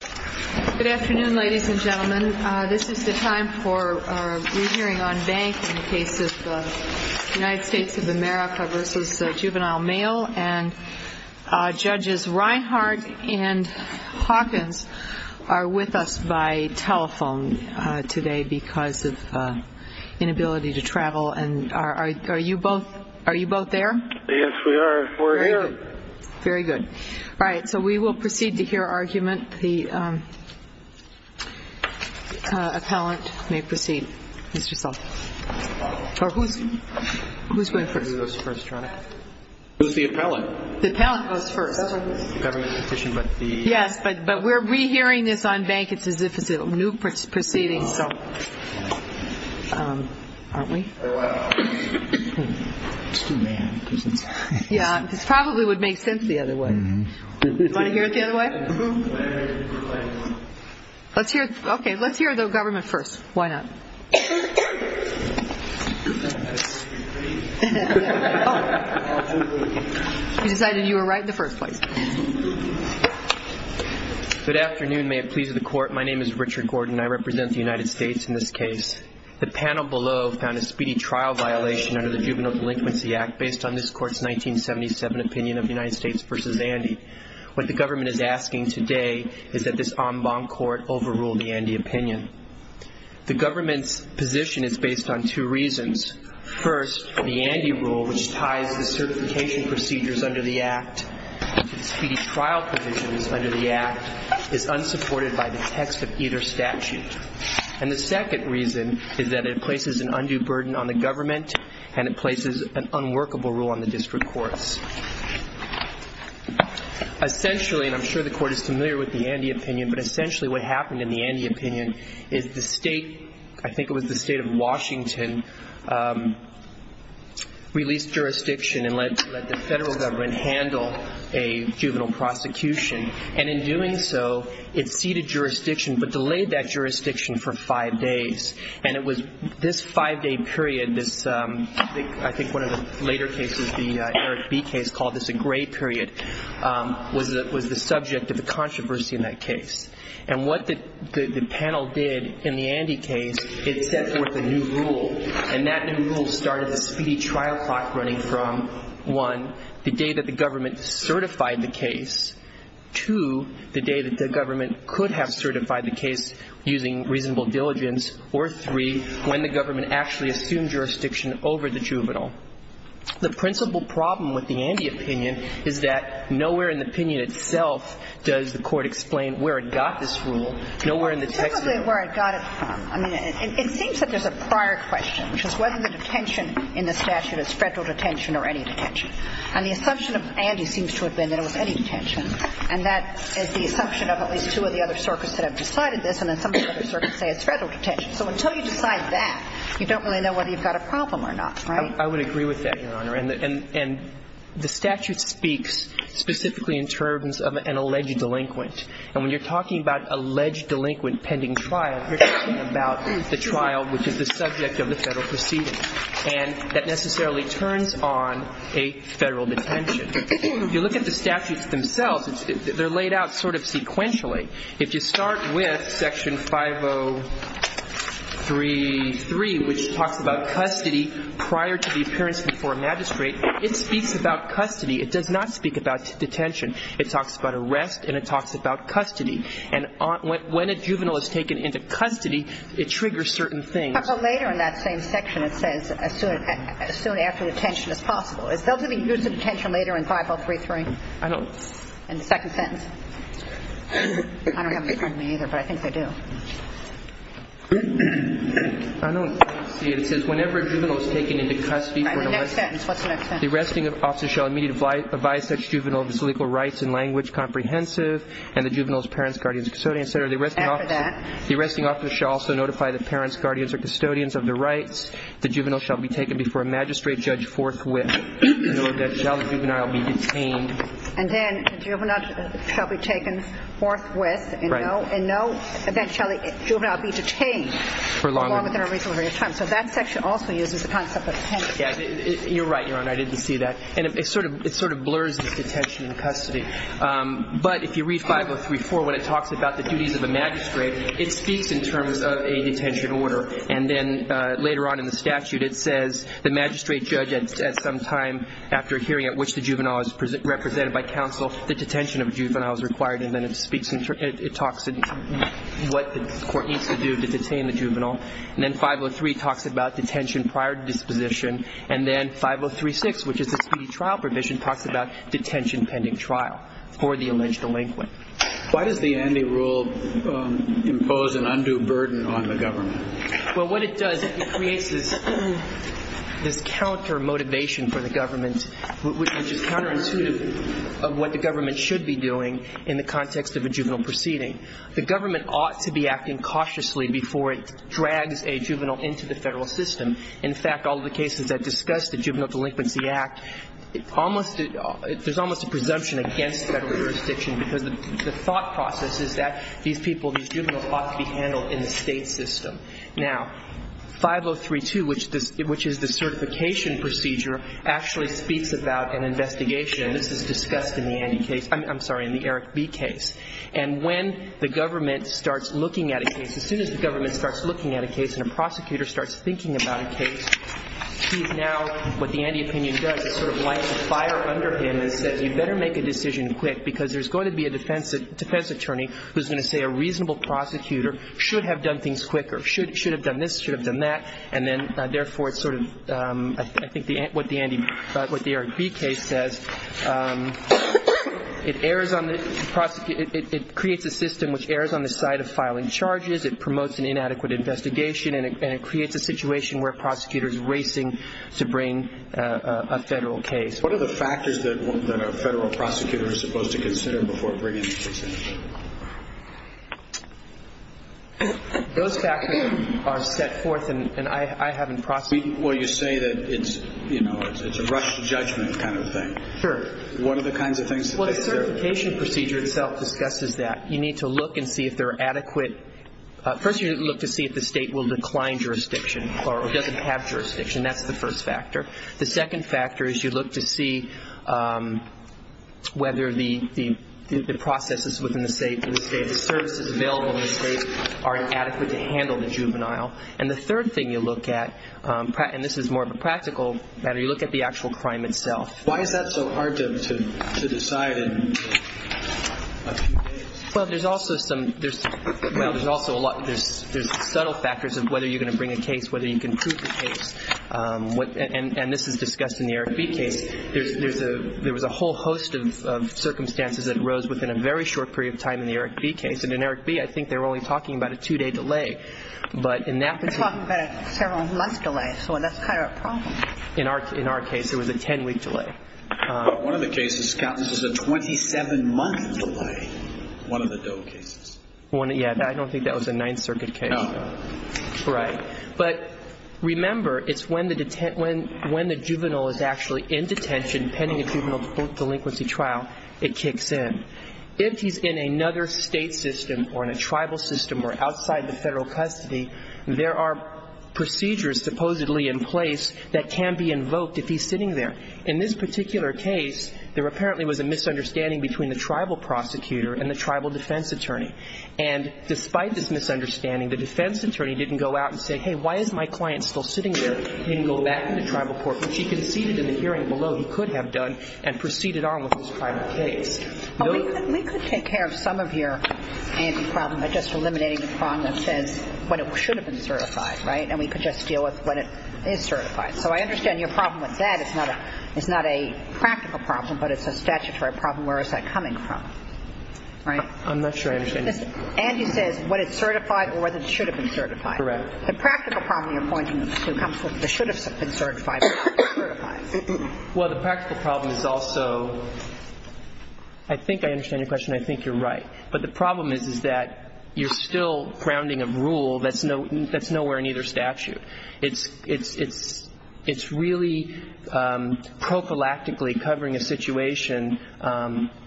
Good afternoon, ladies and gentlemen. This is the time for our re-hearing on banks in the case of the United States of America v. Juvenile Male, and Judges Reinhardt and Hawkins are with us by telephone today because of inability to travel. Are you both there? Yes, we are. We're here. Very good. All right, so we will proceed to hear argument. The appellant may proceed, Mr. Sullivan. Who's going first? Who's the appellant? The appellant goes first. Yes, but we're re-hearing this on banks. It's as if it's a new proceeding. Aren't we? Yeah, it probably would make sense the other way. Do you want to hear it the other way? Let's hear the government first. Why not? You decided you were right in the first place. Good afternoon. May it please the court, my name is Richard Gordon. I represent the United States in this case. The panel below found a speedy trial violation under the Juvenile Delinquency Act based on this court's 1977 opinion of the United States v. Andy. What the government is asking today is that this en banc court overrule the Andy opinion. The government's position is based on two reasons. First, the Andy rule, which ties the certification procedures under the Act to the speedy trial provisions under the Act, is unsupported by the text of either statute. And the second reason is that it places an undue burden on the government and it places an unworkable rule on the district courts. Essentially, and I'm sure the court is familiar with the Andy opinion, but essentially what happened in the Andy opinion is the state, I think it was the state of Washington, released jurisdiction and let the federal government handle a juvenile prosecution. And in doing so, it ceded jurisdiction but delayed that jurisdiction for five days. And it was this five-day period, I think one of the later cases, the Eric B. case, called this a gray period, was the subject of the controversy in that case. And what the panel did in the Andy case, it set forth a new rule. And that new rule started the speedy trial clock running from, one, the day that the government certified the case, two, the day that the government could have certified the case using reasonable diligence, or three, when the government actually assumed jurisdiction over the juvenile. The principal problem with the Andy opinion is that nowhere in the opinion itself does the Court explain where it got this rule. Nowhere in the text of it. Typically where it got it from. I mean, it seems that there's a prior question, which is whether the detention in the statute is federal detention or any detention. And the assumption of Andy seems to have been that it was any detention. And that is the assumption of at least two of the other circuits that have decided this. And then some of the other circuits say it's federal detention. So until you decide that, you don't really know whether you've got a problem or not, right? I would agree with that, Your Honor. And the statute speaks specifically in terms of an alleged delinquent. And when you're talking about alleged delinquent pending trial, you're talking about the trial which is the subject of the federal proceeding. And that necessarily turns on a federal detention. If you look at the statutes themselves, they're laid out sort of sequentially. If you start with Section 5033, which talks about custody prior to the appearance before a magistrate, it speaks about custody. It does not speak about detention. It talks about arrest and it talks about custody. And when a juvenile is taken into custody, it triggers certain things. But later in that same section, it says as soon after detention as possible. Is there going to be use of detention later in 5033? I don't see it. In the second sentence? I don't have it in front of me either, but I think they do. I don't see it. It says whenever a juvenile is taken into custody for the arrest. In the next sentence. What's the next sentence? The arresting officer shall immediately advise such juvenile of his legal rights and language comprehensive and the juvenile's parents, guardians, custodians, et cetera. After that? The arresting officer shall also notify the parents, guardians, or custodians of their rights. The juvenile shall be taken before a magistrate judge forthwith. And then shall the juvenile be detained. And then the juvenile shall be taken forthwith. Right. And no, then shall the juvenile be detained. For longer. For longer than a reasonable period of time. So that section also uses the concept of detention. You're right, Your Honor. I didn't see that. And it sort of blurs this detention and custody. But if you read 5034, when it talks about the duties of a magistrate, it speaks in terms of a detention order. And then later on in the statute, it says the magistrate judge at some time after hearing at which the juvenile is represented by counsel, the detention of a juvenile is required. And then it talks what the court needs to do to detain the juvenile. And then 503 talks about detention prior to disposition. And then 5036, which is a speedy trial provision, talks about detention pending trial for the alleged delinquent. Why does the Andy Rule impose an undue burden on the government? Well, what it does, it creates this counter motivation for the government, which is counterintuitive of what the government should be doing in the context of a juvenile proceeding. The government ought to be acting cautiously before it drags a juvenile into the federal system. In fact, all of the cases that discuss the Juvenile Delinquency Act, there's almost a presumption against federal jurisdiction because the thought process is that these people, these juveniles ought to be handled in the state system. Now, 5032, which is the certification procedure, actually speaks about an investigation. This is discussed in the Andy case. I'm sorry, in the Eric B. case. And when the government starts looking at a case, as soon as the government starts looking at a case and a prosecutor starts thinking about a case, he's now, what the Andy opinion does, it sort of lights a fire under him and says you'd better make a decision quick because there's going to be a defense attorney who's going to say a reasonable prosecutor should have done things quicker, should have done this, should have done that. And then, therefore, it's sort of, I think, what the Andy, what the Eric B. case says, it errs on the, it creates a system which errs on the side of filing charges. It promotes an inadequate investigation, and it creates a situation where a prosecutor is racing to bring a federal case. What are the factors that a federal prosecutor is supposed to consider before bringing a case in? Those factors are set forth, and I haven't processed them. Well, you say that it's, you know, it's a rush to judgment kind of thing. Sure. What are the kinds of things that they deserve? Well, the certification procedure itself discusses that. You need to look and see if they're adequate. First, you need to look to see if the state will decline jurisdiction or doesn't have jurisdiction. That's the first factor. The second factor is you look to see whether the processes within the state, the services available in the state are adequate to handle the juvenile. And the third thing you look at, and this is more of a practical matter, you look at the actual crime itself. Why is that so hard to decide in a few days? Well, there's also some – well, there's also a lot – there's subtle factors of whether you're going to bring a case, whether you can prove the case. And this is discussed in the Eric B. case. There was a whole host of circumstances that arose within a very short period of time in the Eric B. case. And in Eric B., I think they were only talking about a two-day delay. But in that – They're talking about a several-month delay, so that's kind of a problem. In our case, it was a ten-week delay. One of the cases, this was a 27-month delay, one of the Doe cases. Yeah, I don't think that was a Ninth Circuit case. No. Right. But remember, it's when the juvenile is actually in detention pending a juvenile delinquency trial, it kicks in. If he's in another state system or in a tribal system or outside the federal custody, there are procedures supposedly in place that can be invoked if he's sitting there. In this particular case, there apparently was a misunderstanding between the tribal prosecutor and the tribal defense attorney. And despite this misunderstanding, the defense attorney didn't go out and say, hey, why is my client still sitting there? He didn't go back to the tribal court. But she conceded in the hearing below he could have done and proceeded on with this private case. We could take care of some of your anti-problem by just eliminating the problem that says when it should have been certified, right? And we could just deal with when it is certified. So I understand your problem with that is not a practical problem, but it's a statutory problem. Where is that coming from, right? I'm not sure I understand. Andy says when it's certified or whether it should have been certified. Correct. The practical problem you're pointing to comes with the should have been certified or should have been certified. Well, the practical problem is also, I think I understand your question. I think you're right. But the problem is that you're still grounding a rule that's nowhere in either statute. It's really prophylactically covering a situation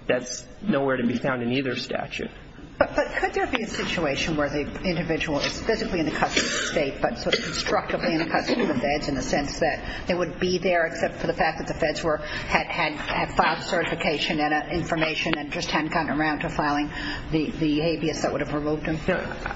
that's nowhere to be found in either statute. But could there be a situation where the individual is physically in the custody of the state but sort of constructively in the custody of the feds in the sense that they would be there except for the fact that the feds had filed certification and information and just hadn't gotten around to filing the habeas that would have removed them?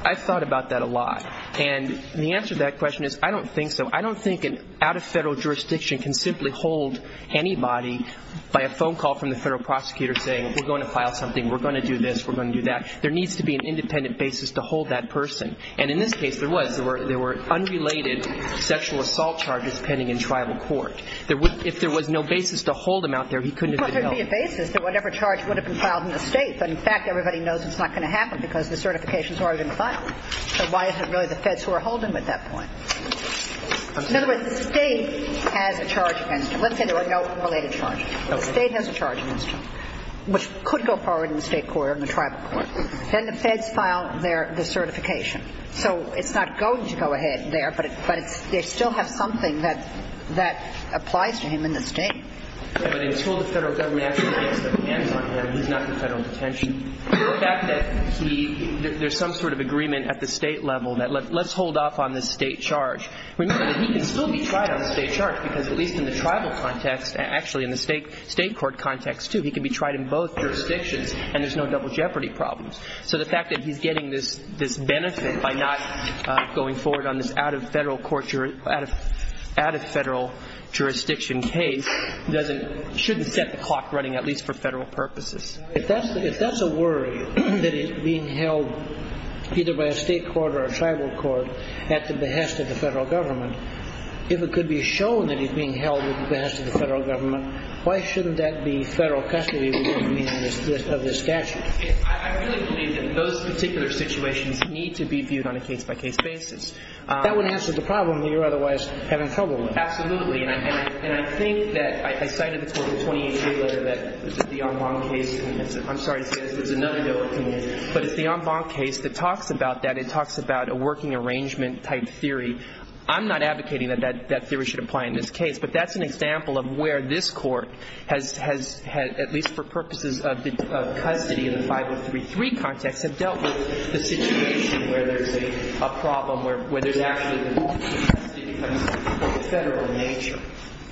I've thought about that a lot. And the answer to that question is I don't think so. I don't think an out-of-federal jurisdiction can simply hold anybody by a phone call from the federal prosecutor saying, we're going to file something, we're going to do this, we're going to do that. There needs to be an independent basis to hold that person. And in this case there was. There were unrelated sexual assault charges pending in tribal court. If there was no basis to hold them out there, he couldn't have been held. Well, there would be a basis that whatever charge would have been filed in the state. But, in fact, everybody knows it's not going to happen because the certification is already been filed. So why is it really the feds who are holding them at that point? In other words, the state has a charge against them. Let's say there were no related charges. The state has a charge against them, which could go forward in the state court or in the tribal court. Then the feds file their certification. So it's not going to go ahead there, but they still have something that applies to him in the state. But until the federal government actually takes their hands on him, he's not in federal detention. The fact that there's some sort of agreement at the state level that let's hold off on this state charge. Remember that he can still be tried on the state charge because at least in the tribal context, actually in the state court context too, he can be tried in both jurisdictions and there's no double jeopardy problems. So the fact that he's getting this benefit by not going forward on this out-of-federal jurisdiction case shouldn't set the clock running, at least for federal purposes. If that's a worry, that he's being held either by a state court or a tribal court at the behest of the federal government, if it could be shown that he's being held at the behest of the federal government, why shouldn't that be federal custody of this statute? I really believe that those particular situations need to be viewed on a case-by-case basis. That would answer the problem that you're otherwise having trouble with. Absolutely. And I think that I cited this with the 28-day letter that was at the en banc case. I'm sorry to say this. There's another bill that came in. But it's the en banc case that talks about that. It talks about a working arrangement type theory. I'm not advocating that that theory should apply in this case, but that's an example of where this Court has had, at least for purposes of custody in the 5033 context, have dealt with the situation where there's a problem, where there's actually a federal nature.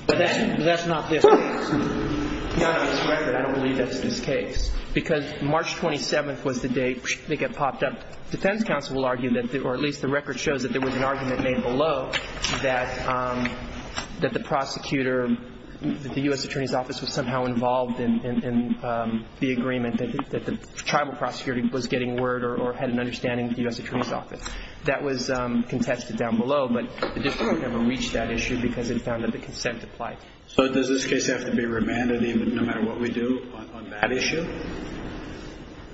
But that's not this case. It's not on this record. I don't believe that's this case. Because March 27th was the date they got popped up. The defense counsel will argue, or at least the record shows, that there was an argument made below that the prosecutor, that the U.S. Attorney's Office was somehow involved in the agreement, that the tribal prosecutor was getting word or had an understanding of the U.S. Attorney's Office. That was contested down below. But the district never reached that issue because it found that the consent applied. So does this case have to be remanded no matter what we do on that issue?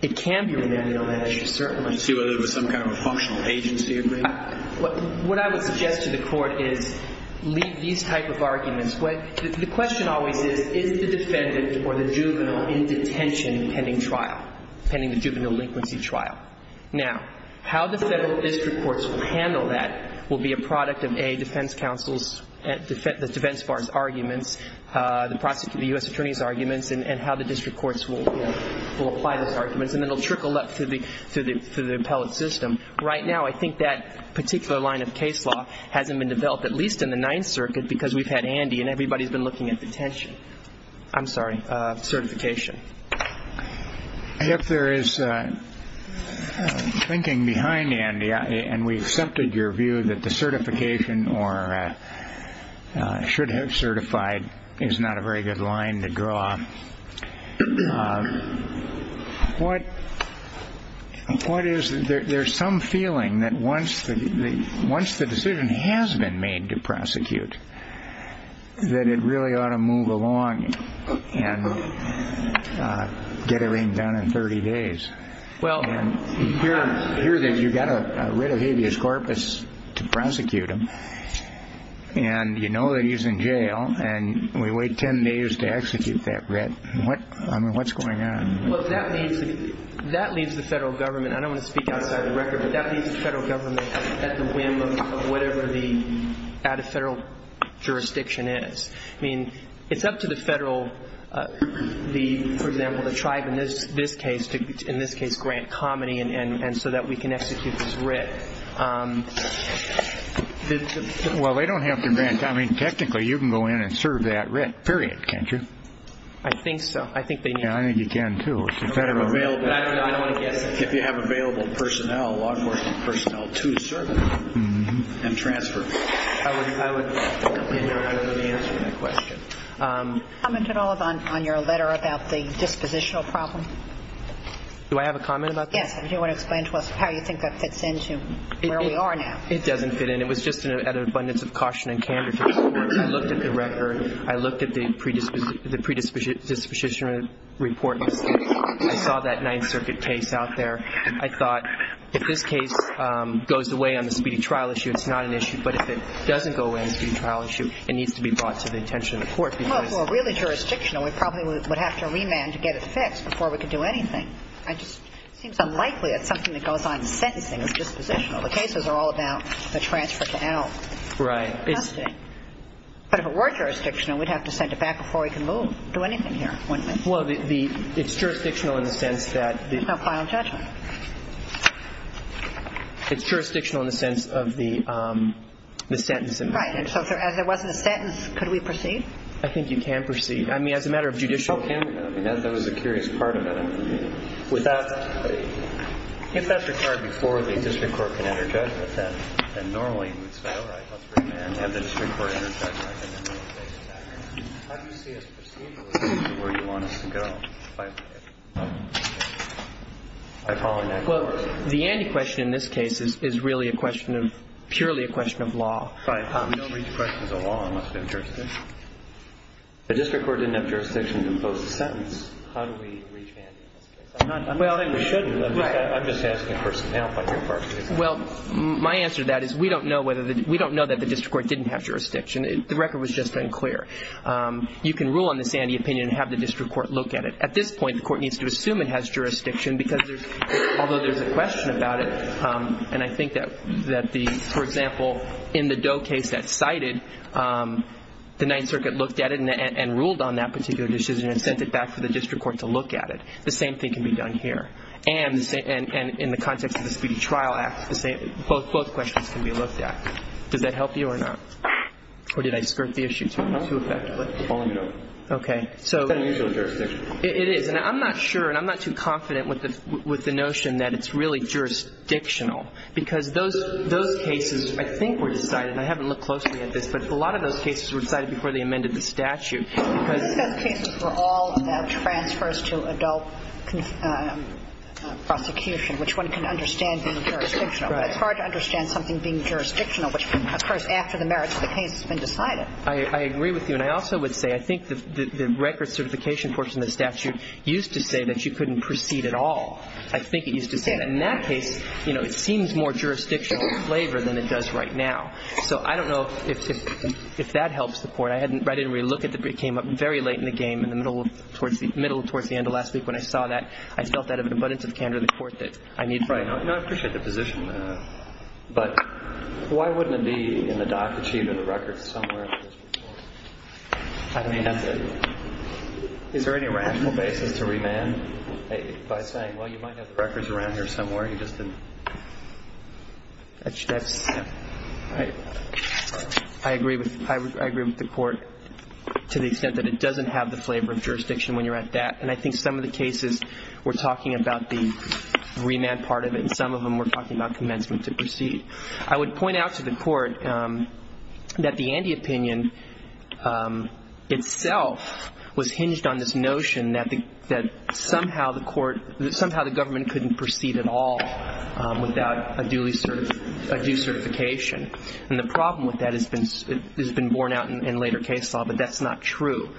It can be remanded on that issue, certainly. To see whether there was some kind of a functional agency agreement? What I would suggest to the Court is leave these type of arguments. The question always is, is the defendant or the juvenile in detention pending trial, pending the juvenile delinquency trial? Now, how the federal district courts will handle that will be a product of, A, defense counsel's defense bar's arguments, the U.S. Attorney's arguments, and how the district courts will apply those arguments, and it will trickle up through the appellate system. Right now, I think that particular line of case law hasn't been developed, at least in the Ninth Circuit, because we've had Andy and everybody's been looking at detention. I'm sorry, certification. If there is thinking behind Andy, and we've accepted your view that the certification or should have certified is not a very good line to draw, what is there some feeling that once the decision has been made to prosecute that it really ought to move along and get everything done in 30 days? Well, here you've got to rid of habeas corpus to prosecute him, and you know that he's in jail, and we wait 10 days to execute that writ. I mean, what's going on? Well, that leaves the federal government, and I don't want to speak outside the record, but that leaves the federal government at the whim of whatever the out-of-federal jurisdiction is. I mean, it's up to the federal, for example, the tribe in this case, and so that we can execute this writ. Well, they don't have to grant. I mean, technically you can go in and serve that writ, period, can't you? I think so. I think they need to. Yeah, I think you can too. I don't want to guess. If you have available law enforcement personnel to serve him and transfer him. I wouldn't answer that question. Comment at all on your letter about the dispositional problem? Do I have a comment about that? Yes. Do you want to explain to us how you think that fits into where we are now? It doesn't fit in. It was just an abundance of caution and candor to the court. I looked at the record. I looked at the predisposition report. I saw that Ninth Circuit case out there. I thought if this case goes away on the speedy trial issue, it's not an issue, but if it doesn't go away on the speedy trial issue, it needs to be brought to the attention of the court. Well, for a really jurisdictional, we probably would have to remand to get it fixed before we could do anything. It just seems unlikely that something that goes on in sentencing is dispositional. The cases are all about the transfer to out. Right. But if it were jurisdictional, we'd have to send it back before we can move, do anything here, wouldn't we? Well, it's jurisdictional in the sense that the – There's no final judgment. It's jurisdictional in the sense of the sentence. Right. And so if there wasn't a sentence, could we proceed? I think you can proceed. I mean, as a matter of judicial – Okay. I mean, that was a curious part of it. With that, if that's required before the district court can enter judgment, then normally we'd say, all right, let's remand, have the district court enter judgment, and then we'll take it back. How do you see us proceeding with where you want us to go by following that course? Well, the Andy question in this case is really a question of – purely a question of law. Right. We don't reach questions of law unless it's interesting. The district court didn't have jurisdiction to impose the sentence. How do we reach Andy in this case? I'm not saying we shouldn't. Right. I'm just asking a person to panelify their part. Well, my answer to that is we don't know whether the – we don't know that the district court didn't have jurisdiction. The record was just unclear. You can rule on this Andy opinion and have the district court look at it. At this point, the court needs to assume it has jurisdiction because there's – although there's a question about it, and I think that the – the Ninth Circuit looked at it and ruled on that particular decision and sent it back for the district court to look at it. The same thing can be done here. And in the context of the Speedy Trial Act, both questions can be looked at. Does that help you or not? Or did I skirt the issue too effectively? No. Okay. It's an unusual jurisdiction. It is. And I'm not sure and I'm not too confident with the notion that it's really jurisdictional because those cases I think were decided, and I haven't looked closely at this, but a lot of those cases were decided before they amended the statute. Because those cases were all transfers to adult prosecution, which one can understand being jurisdictional. But it's hard to understand something being jurisdictional, which occurs after the merits of the case has been decided. I agree with you. And I also would say I think the record certification portion of the statute used to say that you couldn't proceed at all. I think it used to say that. And in that case, you know, it seems more jurisdictional in flavor than it does right now. So I don't know if that helps the court. I didn't really look at it. It came up very late in the game, in the middle towards the end of last week when I saw that. I felt that of an abundance of candor to the court that I need. Right. No, I appreciate the position. But why wouldn't it be in the doc achieved in the records somewhere? I mean, is there any rational basis to remand by saying, well, you might have the records around here somewhere. You just didn't. I agree with the court to the extent that it doesn't have the flavor of jurisdiction when you're at that. And I think some of the cases were talking about the remand part of it, and some of them were talking about commencement to proceed. I would point out to the court that the Andy opinion itself was hinged on this notion that somehow the government couldn't proceed at all without a due certification. And the problem with that has been borne out in later case law, but that's not true.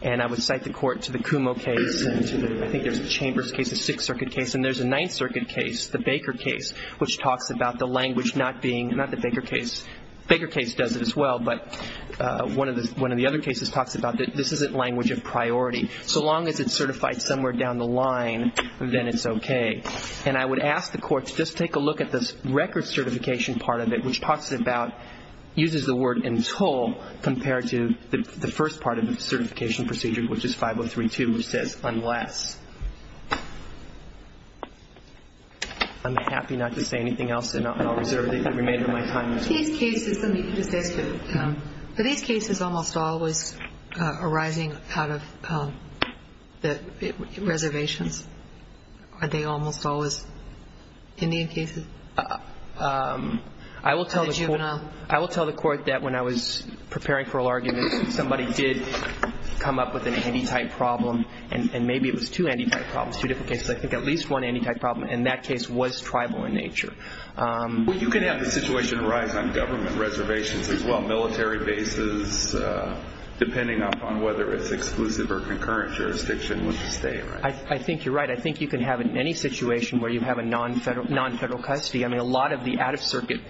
And I would cite the court to the Kumo case, and I think there's a Chambers case, a Sixth Circuit case, and there's a Ninth Circuit case, the Baker case, which talks about the language not being ñ not the Baker case. Baker case does it as well, but one of the other cases talks about this isn't language of priority. So long as it's certified somewhere down the line, then it's okay. And I would ask the court to just take a look at this record certification part of it, which talks about ñ uses the word ìuntilî compared to the first part of the certification procedure, which is 5032, which says ìunless.î I'm happy not to say anything else, and I'll reserve the remainder of my time. These cases almost always arising out of the reservations. Are they almost always Indian cases? I will tell the court that when I was preparing for an argument, somebody did come up with an anti-type problem, and maybe it was two anti-type problems, two different cases. I think at least one anti-type problem, and that case was tribal in nature. Well, you can have the situation arise on government reservations as well, military bases, depending upon whether it's exclusive or concurrent jurisdiction with the State, right? I think you're right. I think you can have it in any situation where you have a non-Federal custody. I mean, a lot of the out-of-Circuit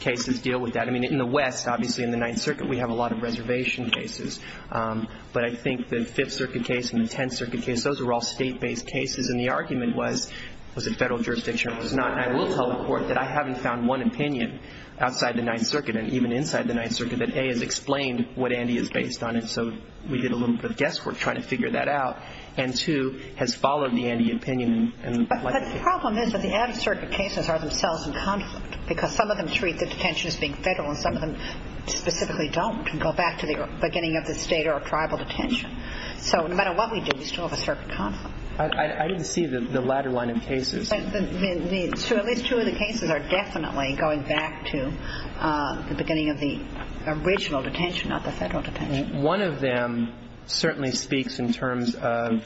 cases deal with that. I mean, in the West, obviously, in the Ninth Circuit, we have a lot of reservation cases. But I think the Fifth Circuit case and the Tenth Circuit case, those were all State-based cases, and the argument was, was it Federal jurisdiction or was it not? And I will tell the court that I haven't found one opinion outside the Ninth Circuit and even inside the Ninth Circuit that, A, has explained what ANDI is based on, and so we did a little bit of guesswork trying to figure that out, and, two, has followed the ANDI opinion. But the problem is that the out-of-Circuit cases are themselves in conflict because some of them treat the detention as being Federal and some of them specifically don't and go back to the beginning of the State or Tribal detention. So no matter what we do, we still have a certain conflict. I didn't see the latter line of cases. So at least two of the cases are definitely going back to the beginning of the original detention, not the Federal detention. One of them certainly speaks in terms of,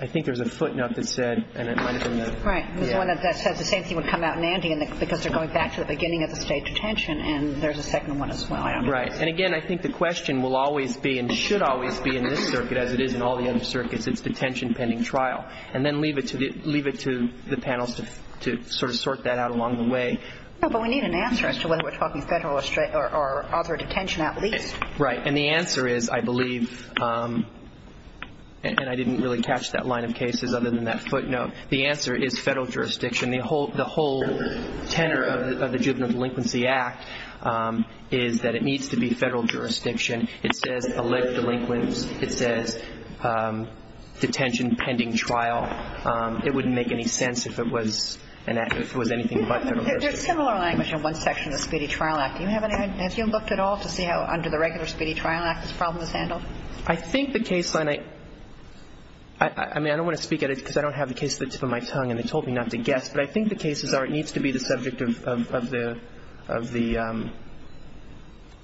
I think there's a footnote that said, and it might have been that. Right. There's one that says the same thing would come out in ANDI because they're going back to the beginning of the State detention, and there's a second one as well. Right. And, again, I think the question will always be and should always be in this circuit, as it is in all the other circuits, it's detention pending trial. And then leave it to the panels to sort of sort that out along the way. No, but we need an answer as to whether we're talking Federal or other detention at least. Right. And the answer is, I believe, and I didn't really catch that line of cases other than that footnote, the answer is Federal jurisdiction. The whole tenor of the Juvenile Delinquency Act is that it needs to be Federal jurisdiction. It says elect delinquents. It says detention pending trial. It wouldn't make any sense if it was anything but Federal jurisdiction. There's similar language in one section of the Speedy Trial Act. Do you have any idea? Have you looked at all to see how under the regular Speedy Trial Act this problem is handled? I think the case line, I mean, I don't want to speak at it because I don't have the case at the tip of my tongue and they told me not to guess, but I think the cases are it needs to be the subject of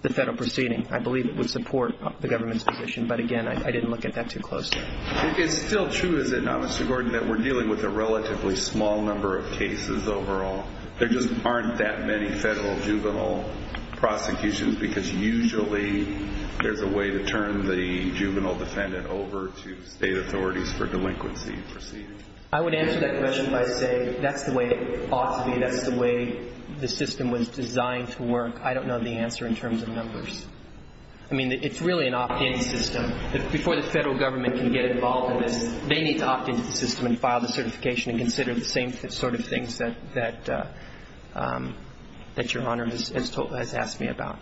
the Federal proceeding. I believe it would support the government's position. But, again, I didn't look at that too closely. It's still true, is it not, Mr. Gordon, that we're dealing with a relatively small number of cases overall. There just aren't that many Federal juvenile prosecutions because usually there's a way to turn the juvenile defendant over to state authorities for delinquency proceedings. I would answer that question by saying that's the way it ought to be. That's the way the system was designed to work. I don't know the answer in terms of numbers. I mean, it's really an opt-in system. Before the Federal government can get involved in this, they need to opt into the system and file the certification and consider the same sort of things that Your Honor has asked me about.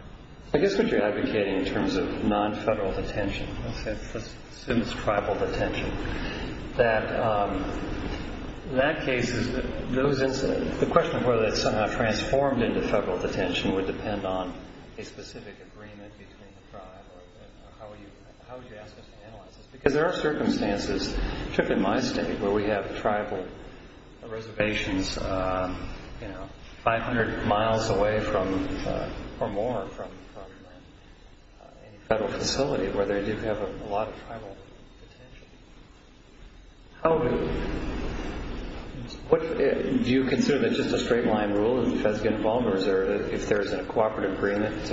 I guess what you're advocating in terms of non-Federal detention, let's assume it's tribal detention, that in that case the question of whether it's transformed into Federal detention would depend on a specific agreement between the tribe or how would you ask us to analyze this? Because there are circumstances, particularly in my state, where we have tribal reservations 500 miles away or more from any Federal facility where they do have a lot of tribal detention. Do you consider that just a straight-line rule that the Feds get involved or is there, if there's a cooperative agreement,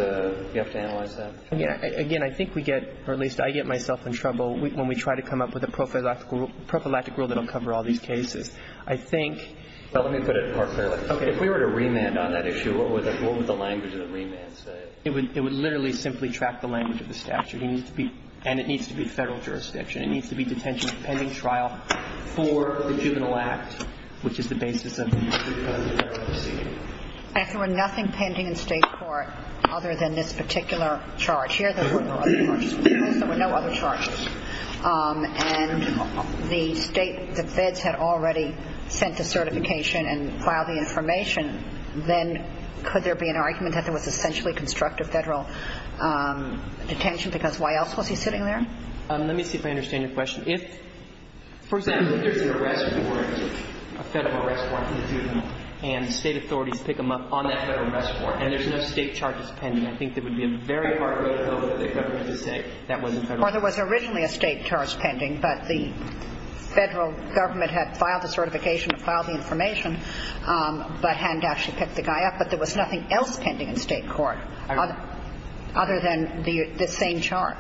you have to analyze that? Again, I think we get, or at least I get myself in trouble when we try to come up with a prophylactic rule that will cover all these cases. I think... Well, let me put it apart fairly. Okay. If we were to remand on that issue, what would the language of the remand say? It would literally simply track the language of the statute. And it needs to be Federal jurisdiction. It needs to be detention pending trial for the Juvenile Act, which is the basis of the Federal proceeding. If there were nothing pending in state court other than this particular charge, here there were no other charges, and the State, the Feds had already sent the certification and filed the information, then could there be an argument that there was essentially constructive Federal detention? Because why else was he sitting there? Let me see if I understand your question. For example, if there's an arrest warrant, a Federal arrest warrant for the juvenile, and the State authorities pick him up on that Federal arrest warrant and there's no state charges pending, I think there would be a very hard way to go for the government to say that wasn't Federal. Well, there was originally a state charge pending, but the Federal government had filed the certification and filed the information but hadn't actually picked the guy up, but there was nothing else pending in state court other than the same charge.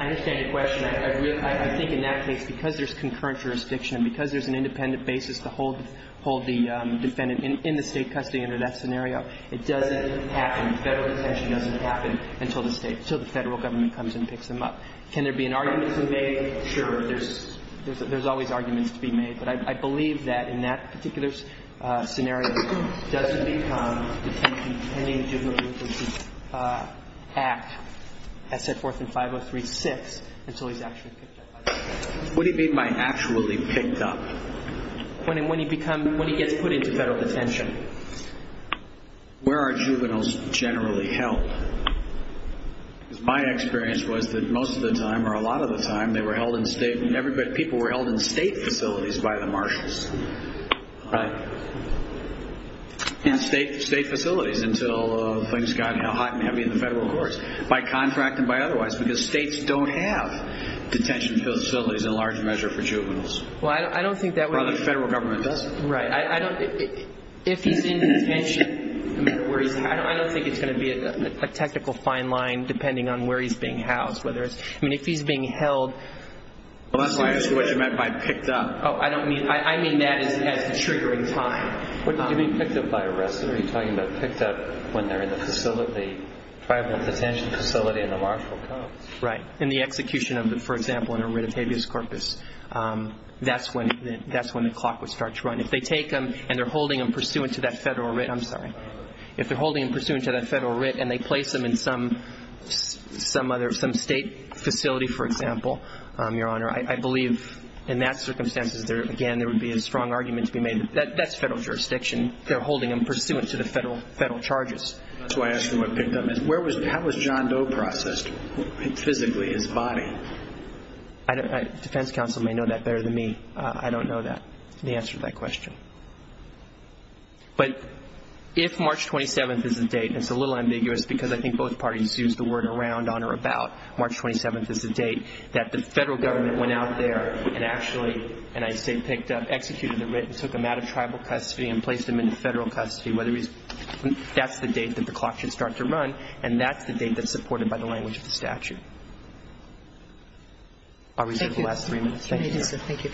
I understand your question. I think in that case, because there's concurrent jurisdiction and because there's an independent basis to hold the defendant in the State custody under that scenario, it doesn't happen. Federal detention doesn't happen until the State, until the Federal government comes and picks him up. Can there be an argument to be made? Sure. There's always arguments to be made. But I believe that in that particular scenario, Federal detention doesn't become detention pending the juvenile delinquency act, SF-403-6, until he's actually picked up by the State. What do you mean by actually picked up? When he gets put into Federal detention. Where are juveniles generally held? Because my experience was that most of the time, or a lot of the time, people were held in State facilities by the Marshals. Right. In State facilities until things got hot and heavy in the Federal courts, by contract and by otherwise, because States don't have detention facilities in large measure for juveniles. Well, I don't think that would be. Well, the Federal government doesn't. Right. If he's in detention, I don't think it's going to be a technical fine line depending on where he's being housed. I mean, if he's being held. Well, that's why I asked you what you meant by picked up. Oh, I don't mean. I mean that as triggering time. What do you mean picked up by arrest? Are you talking about picked up when they're in the facility, Tribal detention facility in the Marshal codes? Right. In the execution of the, for example, in a writ of habeas corpus. That's when the clock would start to run. If they take him and they're holding him pursuant to that Federal writ. I'm sorry. If they're holding him pursuant to that Federal writ and they place him in some state facility, for example, Your Honor, I believe in that circumstance, again, there would be a strong argument to be made that that's Federal jurisdiction. They're holding him pursuant to the Federal charges. That's why I asked you what picked up. How was John Doe processed physically, his body? Defense counsel may know that better than me. I don't know the answer to that question. But if March 27th is the date, and it's a little ambiguous because I think both parties used the word around, on, or about, March 27th is the date that the Federal government went out there and actually, and I say picked up, executed the writ and took him out of Tribal custody and placed him into Federal custody, that's the date that the clock should start to run and that's the date that's supported by the language of the statute. I'll reserve the last three minutes. Thank you. Thank you, sir. Thank you.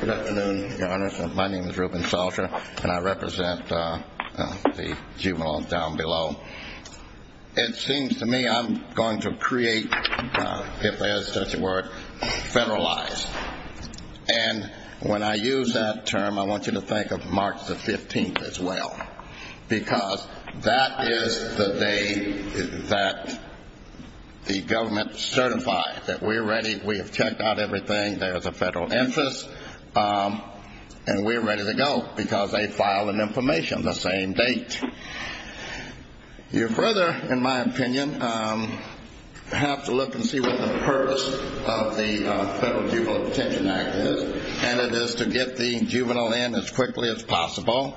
Good afternoon, Your Honor. My name is Reuben Salter, and I represent the juvenile down below. It seems to me I'm going to create, if there is such a word, Federalized. And when I use that term, I want you to think of March the 15th as well because that is the date that the government certified that we're ready, we have checked out everything, there is a Federal interest, and we're ready to go because they filed an information the same date. You further, in my opinion, have to look and see what the purpose of the Federal Juvenile Detention Act is, and it is to get the juvenile in as quickly as possible,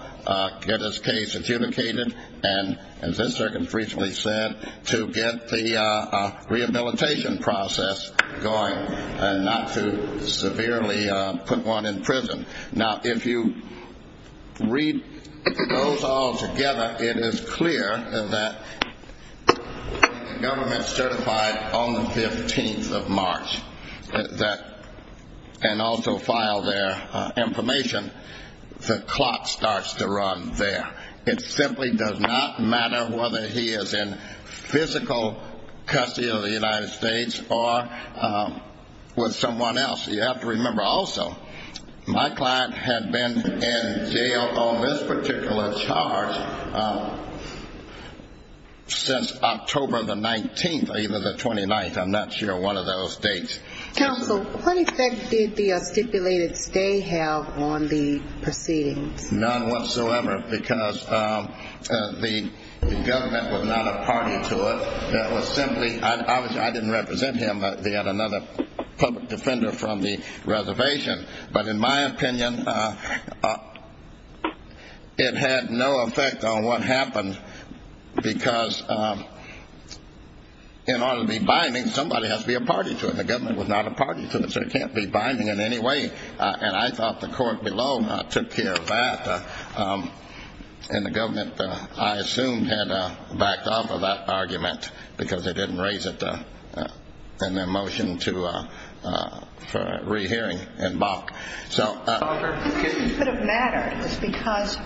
get his case adjudicated, and as this circuit has recently said, to get the rehabilitation process going and not to severely put one in prison. Now, if you read those all together, it is clear that the government certified on the 15th of March and also filed their information, the clock starts to run there. It simply does not matter whether he is in physical custody of the United States or with someone else. You have to remember also, my client had been in jail on this particular charge since October the 19th or even the 29th. I'm not sure, one of those dates. Counsel, what effect did the stipulated stay have on the proceedings? None whatsoever because the government was not a party to it. That was simply, I didn't represent him. They had another public defender from the reservation. But in my opinion, it had no effect on what happened because in order to be binding, somebody has to be a party to it. The government was not a party to it, so it can't be binding in any way. And I thought the court below took care of that. And the government, I assume, had backed off of that argument because they didn't raise it in their motion for rehearing in Bach. It could have mattered because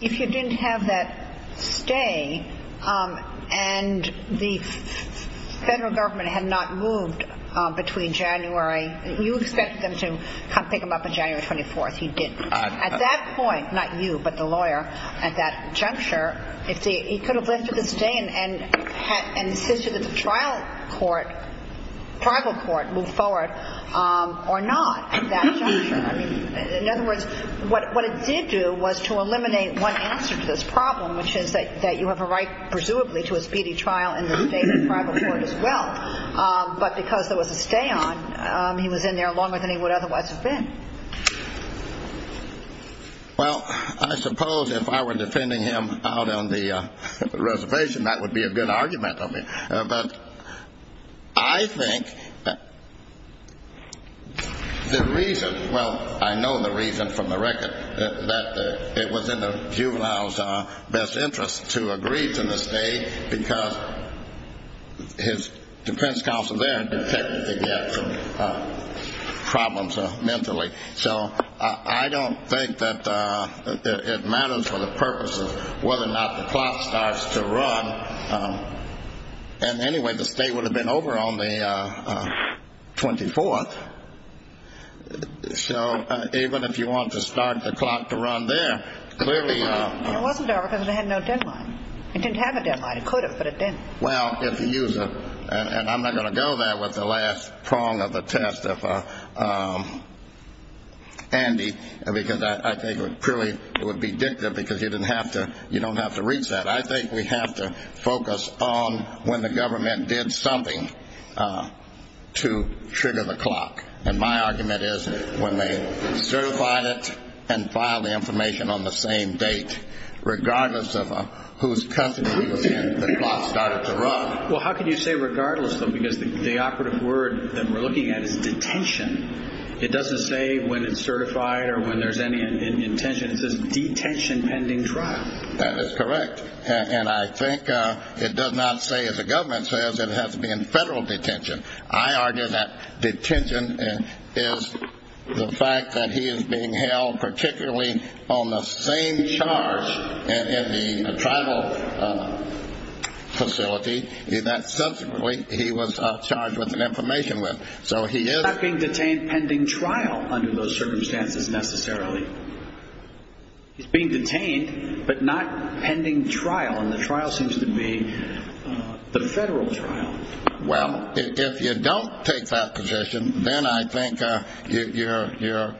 if you didn't have that stay and the federal government had not moved between January, you expected them to come pick him up on January 24th. You didn't. At that point, not you, but the lawyer at that juncture, he could have lifted the stay and insisted that the trial court, the tribal court, move forward or not at that juncture. In other words, what it did do was to eliminate one answer to this problem, which is that you have a right presumably to a speedy trial in the state and tribal court as well. But because there was a stay on, he was in there longer than he would otherwise have been. Well, I suppose if I were defending him out on the reservation, that would be a good argument on me. But I think that the reason, well, I know the reason from the record, that it was in the juvenile's best interest to agree to the stay because his defense counsel there detected the gaps and problems mentally. So I don't think that it matters for the purpose of whether or not the plot starts to run and, anyway, the stay would have been over on the 24th. So even if you want to start the plot to run there, clearly. It wasn't there because it had no deadline. It didn't have a deadline. It could have, but it didn't. Well, if the user, and I'm not going to go there with the last prong of the test, Andy, because I think it purely would be dictative because you don't have to reach that. But I think we have to focus on when the government did something to trigger the clock. And my argument is when they certified it and filed the information on the same date, regardless of whose custody it was in, the plot started to run. Well, how can you say regardless though? Because the operative word that we're looking at is detention. It doesn't say when it's certified or when there's any intention. It says detention pending trial. That is correct. And I think it does not say, as the government says, it has to be in federal detention. I argue that detention is the fact that he is being held particularly on the same charge in the tribal facility that subsequently he was charged with an information with. So he is not being detained pending trial under those circumstances necessarily. He's being detained but not pending trial. And the trial seems to be the federal trial. Well, if you don't take that position, then I think you're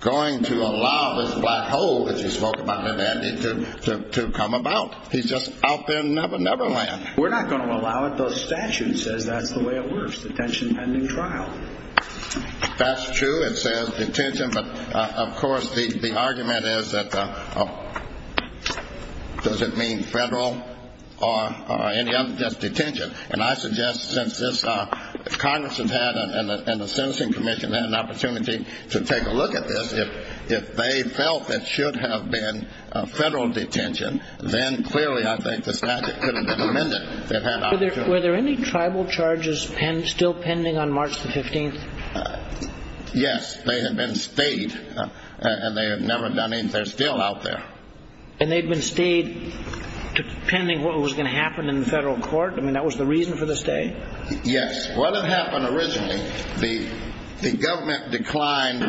going to allow this black hole, as you spoke about it, Andy, to come about. He's just out there in Never Never Land. We're not going to allow it. The statute says that's the way it works, detention pending trial. That's true. It says detention. But, of course, the argument is that does it mean federal or any other? Just detention. And I suggest since Congress and the Sentencing Commission had an opportunity to take a look at this, if they felt it should have been federal detention, then clearly I think the statute could have been amended. Were there any tribal charges still pending on March the 15th? Yes. They had been stayed, and they had never done anything. They're still out there. And they'd been stayed pending what was going to happen in the federal court? I mean, that was the reason for the stay? Yes. What had happened originally, the government declined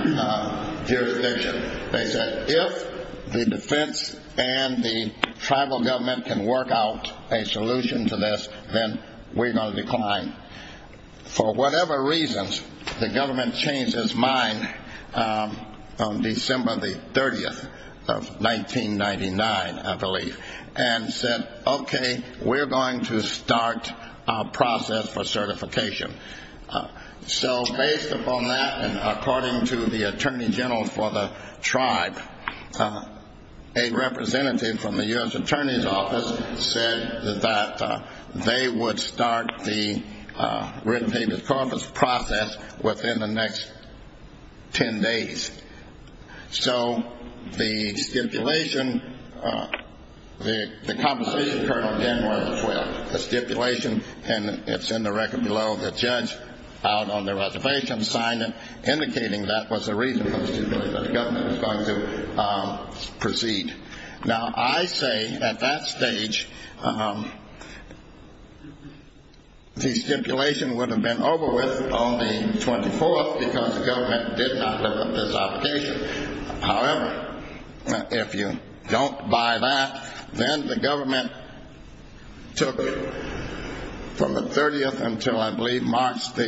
jurisdiction. They said, if the defense and the tribal government can work out a solution to this, then we're going to decline. For whatever reasons, the government changed its mind on December the 30th of 1999, I believe, and said, okay, we're going to start a process for certification. So based upon that, and according to the Attorney General for the tribe, a representative from the U.S. Attorney's Office said that they would start the written paper process within the next 10 days. So the stipulation, the Compensation Code on January the 12th, the stipulation, and it's in the record below, the judge out on the reservation signed it, indicating that was the reason for the stipulation, that the government was going to proceed. Now, I say at that stage the stipulation would have been over with on the 24th because the government did not look at this obligation. However, if you don't buy that, then the government took from the 30th until, I believe, March the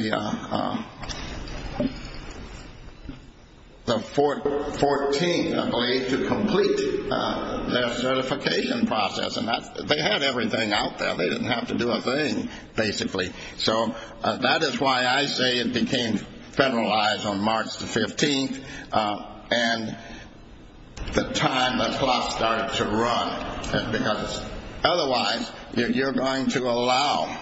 14th, I believe, to complete their certification process. And they had everything out there. They didn't have to do a thing, basically. So that is why I say it became federalized on March the 15th. And the time the clock started to run, because otherwise you're going to allow...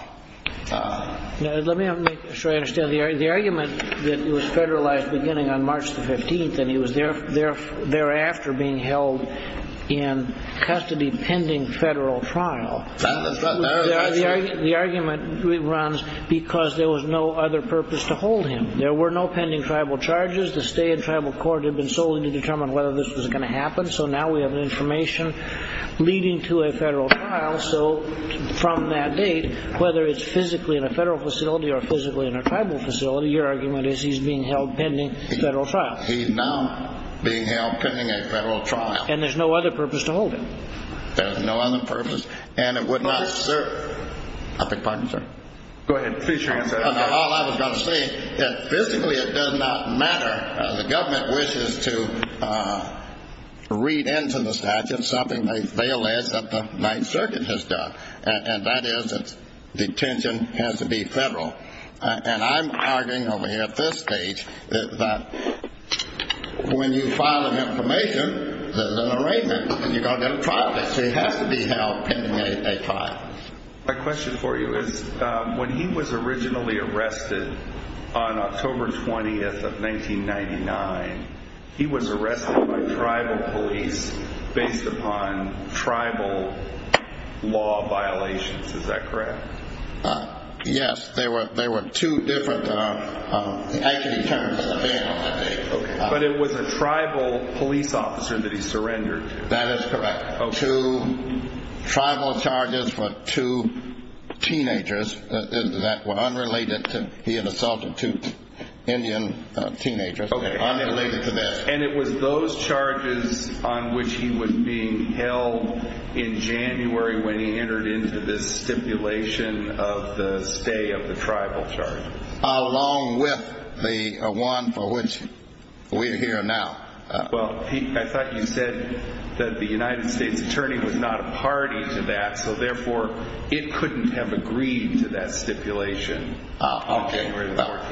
Let me make sure I understand. The argument that it was federalized beginning on March the 15th and he was thereafter being held in custody pending federal trial, the argument runs because there was no other purpose to hold him. There were no pending tribal charges. The state and tribal court had been solely to determine whether this was going to happen. So now we have information leading to a federal trial. So from that date, whether it's physically in a federal facility or physically in a tribal facility, your argument is he's being held pending federal trial. He's now being held pending a federal trial. And there's no other purpose to hold him. There's no other purpose. And it would not serve... I beg your pardon, sir. Go ahead. Please, your answer. All I was going to say is physically it does not matter. The government wishes to read into the statute something they fail as that the Ninth Circuit has done, and that is that detention has to be federal. And I'm arguing over here at this stage that when you file an information, there's an arraignment, and you're going to get a trial. So he has to be held pending a trial. My question for you is when he was originally arrested on October 20th of 1999, he was arrested by tribal police based upon tribal law violations. Is that correct? Yes. They were two different... But it was a tribal police officer that he surrendered to. That is correct. Two tribal charges for two teenagers that were unrelated to he had assaulted two Indian teenagers. Okay. Unrelated to this. And it was those charges on which he was being held in January when he entered into this stipulation of the stay of the tribal charges. Along with the one for which we're here now. Well, I thought you said that the United States attorney was not a party to that, so therefore it couldn't have agreed to that stipulation. Okay.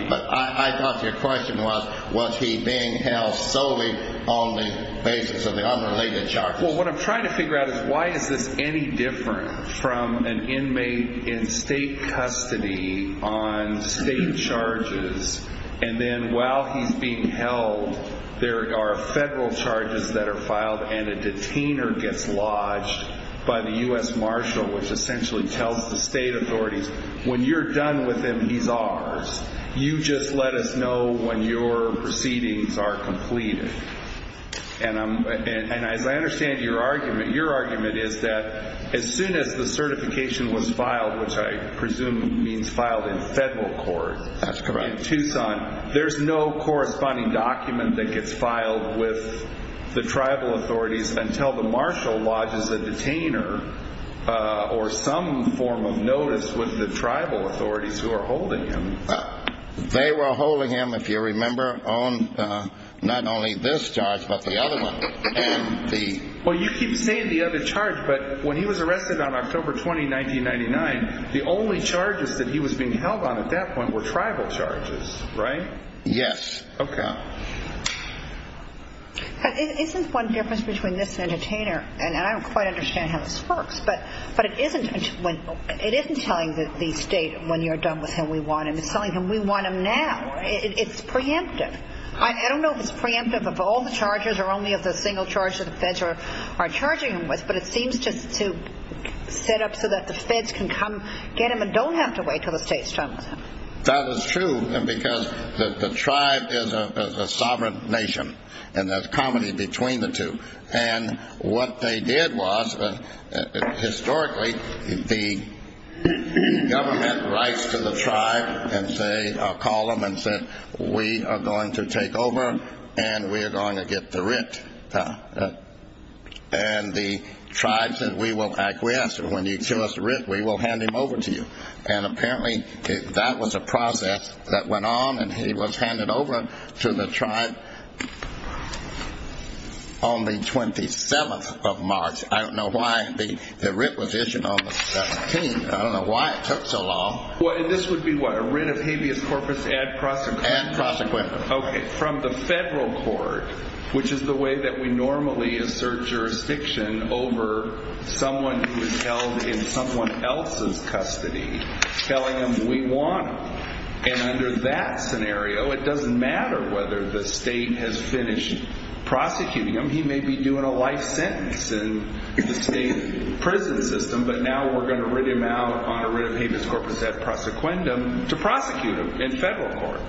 But I thought your question was, was he being held solely on the basis of the unrelated charges? Well, what I'm trying to figure out is why is this any different from an inmate in state custody on state charges, and then while he's being held, there are federal charges that are filed and a detainer gets lodged by the U.S. Marshal, which essentially tells the state authorities, when you're done with him, he's ours. You just let us know when your proceedings are completed. And as I understand your argument, your argument is that as soon as the certification was filed, which I presume means filed in federal court in Tucson, there's no corresponding document that gets filed with the tribal authorities until the Marshal lodges a detainer or some form of notice with the tribal authorities who are holding him. They were holding him, if you remember, on not only this charge but the other one. Well, you keep saying the other charge, but when he was arrested on October 20, 1999, the only charges that he was being held on at that point were tribal charges, right? Yes. Okay. Isn't one difference between this and a detainer, and I don't quite understand how this works, but it isn't telling the state, when you're done with him, we want him. It's telling him we want him now. It's preemptive. I don't know if it's preemptive of all the charges or only of the single charge that the feds are charging him with, but it seems to set up so that the feds can come get him and don't have to wait until the state's done with him. That is true because the tribe is a sovereign nation, and there's comity between the two. And what they did was, historically, the government writes to the tribe and say, We are going to take over, and we are going to get the writ. And the tribe said, We will acquiesce. When you show us the writ, we will hand him over to you. And apparently that was a process that went on, and he was handed over to the tribe on the 27th of March. I don't know why the writ was issued on the 17th. I don't know why it took so long. This would be what, a writ of habeas corpus ad prosequem? Ad prosequem. Okay. From the federal court, which is the way that we normally assert jurisdiction over someone who is held in someone else's custody, telling him we want him. And under that scenario, it doesn't matter whether the state has finished prosecuting him. He may be doing a life sentence in the state prison system, but now we're going to writ him out on a writ of habeas corpus ad prosequendum to prosecute him in federal court.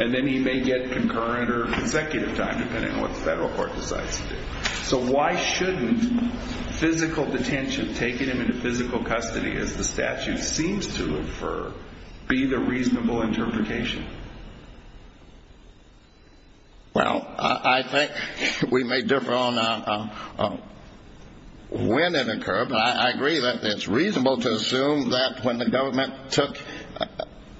And then he may get concurrent or consecutive time, depending on what the federal court decides to do. So why shouldn't physical detention, taking him into physical custody, as the statute seems to infer, be the reasonable interpretation? Well, I think we may differ on when it occurred, but I agree that it's reasonable to assume that when the government took,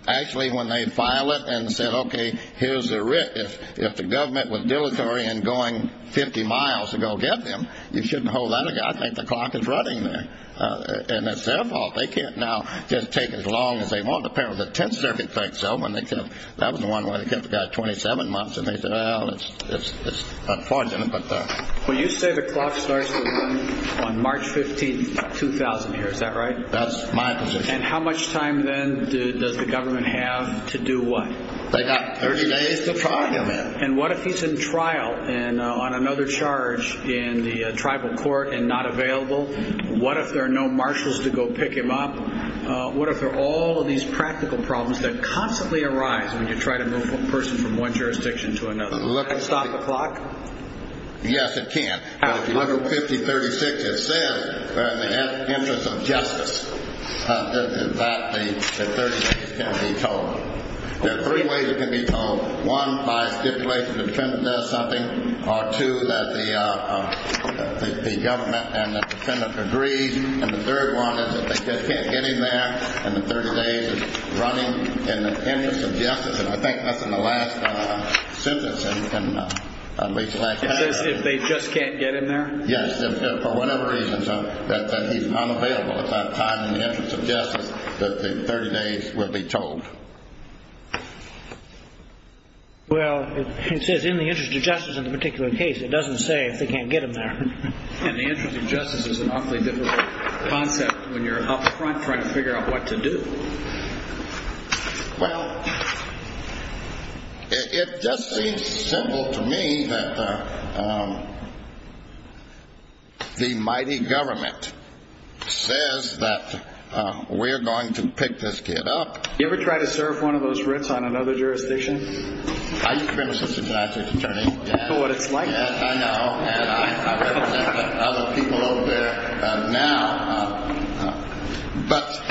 actually when they filed it and said, okay, here's a writ. If the government was dilatory in going 50 miles to go get them, you shouldn't hold that. I think the clock is running there. And it's their fault. They can't now just take as long as they want. Apparently the Tenth Circuit thinks so. That was the one where they kept the guy 27 months, and they said, well, it's unfortunate. Well, you say the clock starts to run on March 15th, 2000 here. Is that right? That's my position. And how much time then does the government have to do what? They got 30 days to trial him. And what if he's in trial and on another charge in the tribal court and not available? What if there are no marshals to go pick him up? What if there are all of these practical problems that constantly arise when you try to move a person from one jurisdiction to another? Can it stop the clock? Yes, it can. If you look at 5036, it says in the interest of justice that the 30 days can be told. There are three ways it can be told. One, by stipulation the defendant does something, or two, that the government and the defendant agrees, and the third one is that they just can't get him there and the 30 days is running in the interest of justice. I think that's in the last sentence. It says if they just can't get him there? Yes, for whatever reason, that he's not available. It's not tied in the interest of justice that the 30 days will be told. Well, it says in the interest of justice in the particular case. It doesn't say if they can't get him there. And the interest of justice is an awfully difficult concept when you're up front trying to figure out what to do. Well, it just seems simple to me that the mighty government says that we're going to pick this kid up. You ever try to serve one of those writs on another jurisdiction? I used to be an assistant judge as attorney. I know what it's like. I know, and I represent other people over there now. But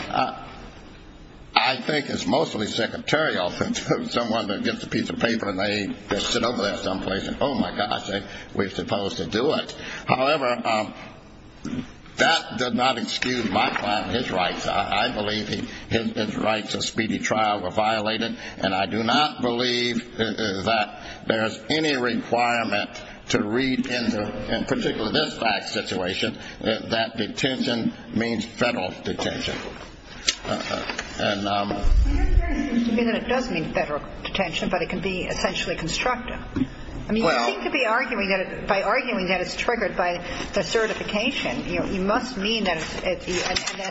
I think it's mostly secretarial for someone to get a piece of paper and they sit over there someplace and, oh, my gosh, we're supposed to do it. However, that does not excuse my client and his rights. I believe his rights of speedy trial were violated, and I do not believe that there is any requirement to read into, in particular this fact situation, that detention means federal detention. And it does mean federal detention, but it can be essentially constructive. I mean, you seem to be arguing that by arguing that it's triggered by the certification, you must mean that it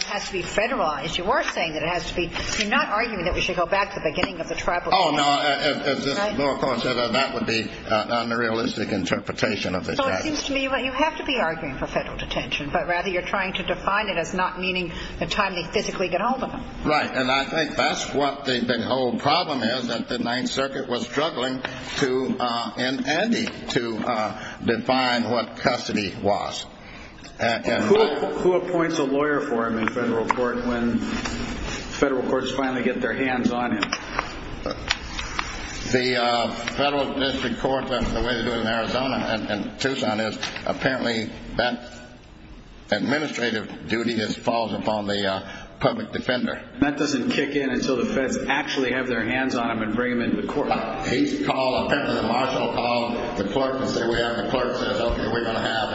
has to be federalized. You are saying that it has to be. You're not arguing that we should go back to the beginning of the tribunal. Oh, no. That would be an unrealistic interpretation of it. It seems to me that you have to be arguing for federal detention, but rather you're trying to define it as not meaning the time they physically get hold of them. Right, and I think that's what the whole problem is, that the Ninth Circuit was struggling to, in any, to define what custody was. Who appoints a lawyer for him in federal court when federal courts finally get their hands on him? The federal district court, the way they do it in Arizona and Tucson, is apparently that administrative duty just falls upon the public defender. That doesn't kick in until the feds actually have their hands on him and bring him into the court. He's called, apparently the marshal called the clerk and said, we have a clerk that says, okay, we're going to have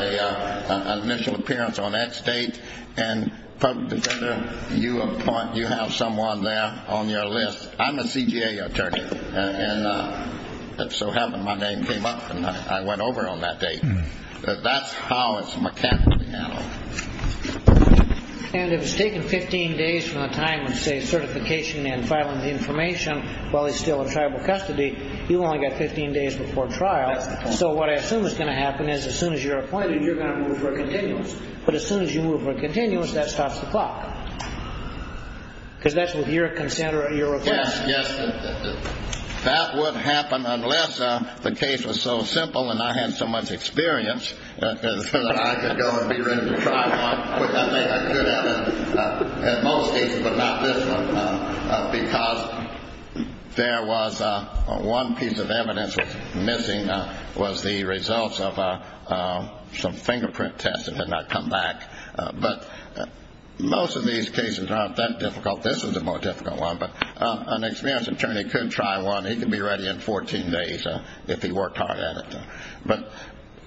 an initial appearance on that state, and public defender, you appoint, you have someone there on your list. I'm a CJA attorney, and it so happened my name came up, and I went over on that date. That's how it's mechanically handled. And if it's taken 15 days from the time of, say, certification and filing the information, while he's still in tribal custody, you've only got 15 days before trial. So what I assume is going to happen is as soon as you're appointed, you're going to move for a continuous. But as soon as you move for a continuous, that stops the clock. Because that's what your request is. Yes, yes. That would happen unless the case was so simple and I had so much experience that I could go and be ready to try one. I mean, I could have it at most cases, but not this one, because there was one piece of evidence that was missing was the results of some fingerprint test that had not come back. But most of these cases aren't that difficult. This is the more difficult one. But an experienced attorney could try one. He could be ready in 14 days if he worked hard at it. But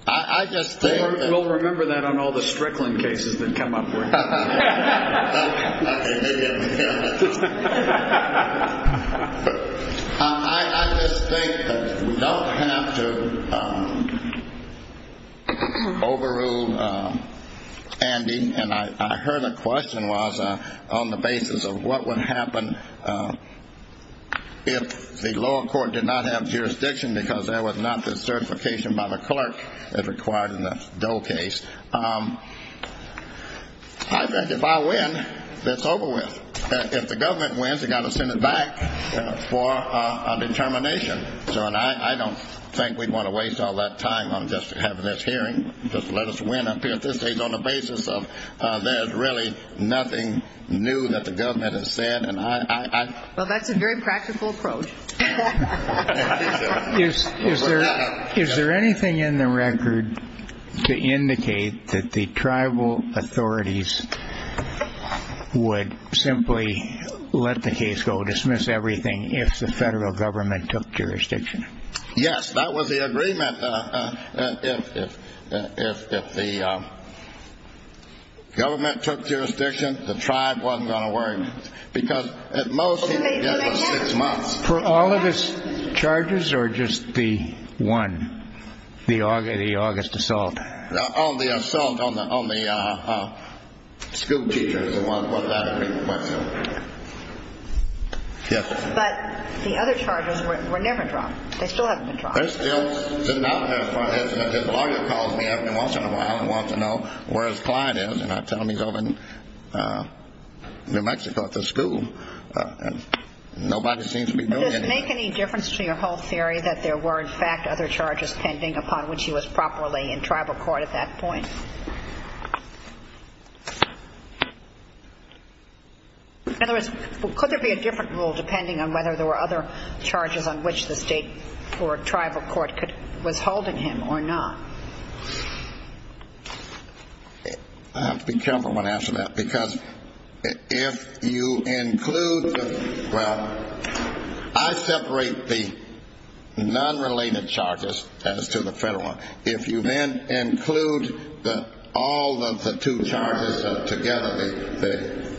I just think that we'll remember that on all the Strickland cases that come up. I just think that we don't have to overrule Andy. And I heard a question was on the basis of what would happen if the lower court did not have jurisdiction because there was not the certification by the clerk that's required in the Doe case. I think if I win, that's over with. If the government wins, they've got to send it back for a determination. So I don't think we'd want to waste all that time on just having this hearing, just let us win up here at this stage on the basis of there's really nothing new that the government has said. Well, that's a very practical approach. Is there anything in the record to indicate that the tribal authorities would simply let the case go, dismiss everything if the federal government took jurisdiction? Yes, that was the agreement. If the government took jurisdiction, the tribe wasn't going to worry. Because at most, he would give us six months. For all of his charges or just the one, the August assault? On the assault on the schoolteachers was that agreement. But the other charges were never dropped. They still haven't been dropped. They're still sitting out there as far as if his lawyer calls me up and wants to know where his client is and I tell him he's over in New Mexico at the school. Nobody seems to be doing anything. Does it make any difference to your whole theory that there were, in fact, other charges pending upon which he was properly in tribal court at that point? In other words, could there be a different rule depending on whether there were other charges on which the state or tribal court was holding him or not? I have to be careful when I answer that because if you include the ñ well, I separate the nonrelated charges as to the federal one. If you then include all of the two charges together,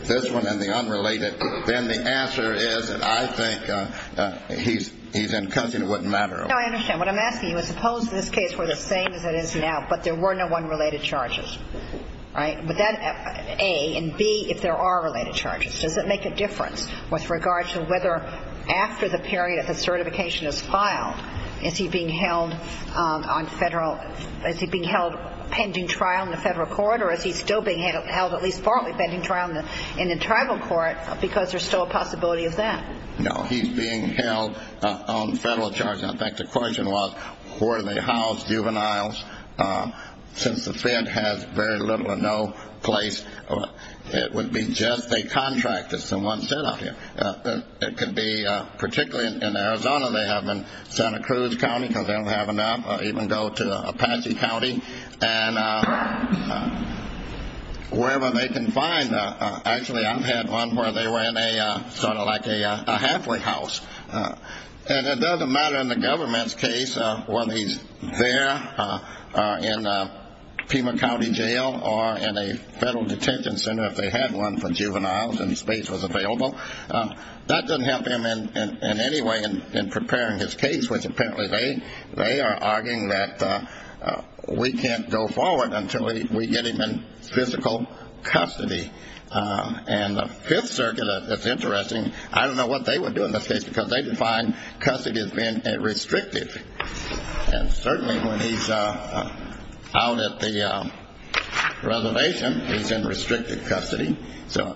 this one and the unrelated, then the answer is that I think he's in custody and it wouldn't matter. No, I understand. What I'm asking you is suppose this case were the same as it is now but there were no unrelated charges, right? Would that, A, and, B, if there are related charges, does it make a difference with regards to whether after the period of the certification is filed, is he being held on federal ñ is he being held pending trial in the federal court or is he still being held at least partly pending trial in the tribal court because there's still a possibility of that? No, he's being held on federal charges. In fact, the question was were they house juveniles. Since the Fed has very little or no place, it would be just a contract, as someone said out here. It could be particularly in Arizona they have them, Santa Cruz County because they don't have enough, or even go to Apache County and wherever they can find them. Actually, I've had one where they were in a sort of like a halfway house. And it doesn't matter in the government's case whether he's there in Pima County Jail or in a federal detention center if they had one for juveniles and space was available. That doesn't help him in any way in preparing his case, which apparently they are arguing that we can't go forward until we get him in physical custody. And the Fifth Circuit, it's interesting, I don't know what they would do in this case because they define custody as being restricted. And certainly when he's out at the reservation, he's in restricted custody. So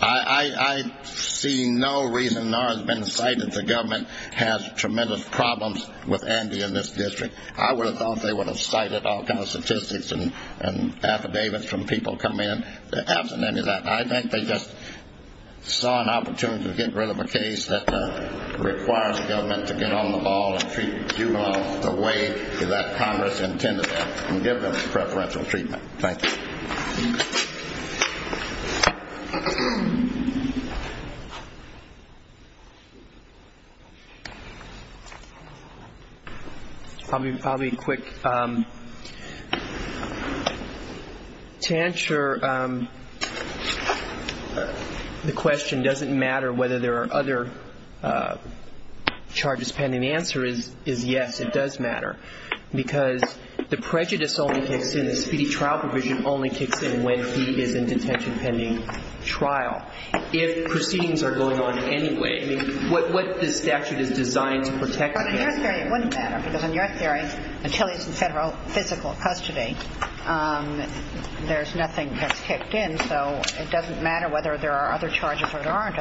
I see no reason nor has been cited the government has tremendous problems with Andy in this district. I would have thought they would have cited all kinds of statistics and affidavits from people coming in. But absent any of that, I think they just saw an opportunity to get rid of a case that requires the government to get on the ball and treat juveniles the way that Congress intended and give them preferential treatment. Thank you. I'll be quick. To answer the question does it matter whether there are other charges pending, the answer is yes, it does matter. Because the prejudice only kicks in, the speedy trial provision only kicks in when he is in detention pending trial. If proceedings are going on anyway, what this statute is designed to protect. But in your theory it wouldn't matter because in your theory until he's in federal physical custody, there's nothing that's kicked in. So it doesn't matter whether there are other charges or there aren't.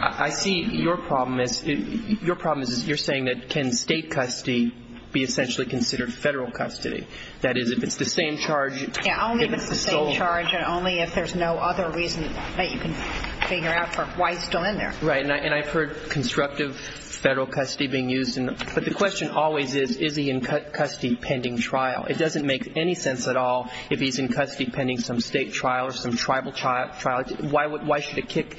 I see your problem is you're saying that can state custody be essentially considered federal custody. That is if it's the same charge. Yeah, only if it's the same charge and only if there's no other reason that you can figure out for why he's still in there. Right, and I've heard constructive federal custody being used. But the question always is, is he in custody pending trial? It doesn't make any sense at all if he's in custody pending some state trial or some tribal trial. Why should it kick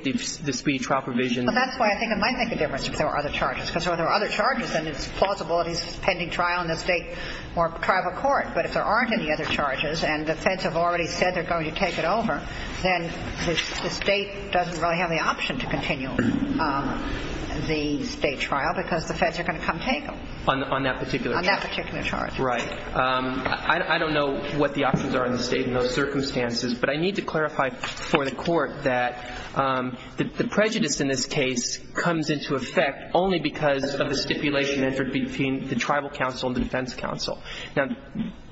the speedy trial provision? Well, that's why I think it might make a difference if there were other charges. Because if there were other charges, then it's plausible that he's pending trial in the state or tribal court. But if there aren't any other charges and the feds have already said they're going to take it over, then the state doesn't really have the option to continue the state trial because the feds are going to come take him. On that particular charge. On that particular charge. Right. I don't know what the options are in the state in those circumstances. But I need to clarify for the court that the prejudice in this case comes into effect only because of the stipulation entered between the tribal counsel and the defense counsel. Now,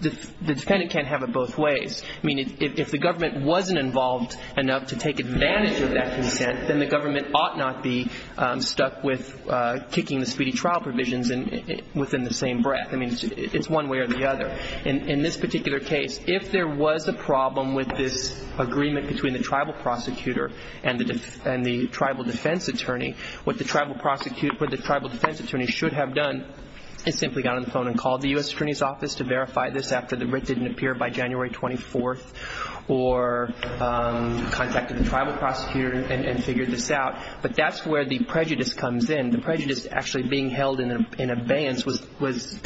the defendant can't have it both ways. I mean, if the government wasn't involved enough to take advantage of that consent, then the government ought not be stuck with kicking the speedy trial provisions within the same breath. I mean, it's one way or the other. But in this particular case, if there was a problem with this agreement between the tribal prosecutor and the tribal defense attorney, what the tribal defense attorney should have done is simply got on the phone and called the U.S. Attorney's Office to verify this after the writ didn't appear by January 24th or contacted the tribal prosecutor and figured this out. But that's where the prejudice comes in. The prejudice actually being held in abeyance was,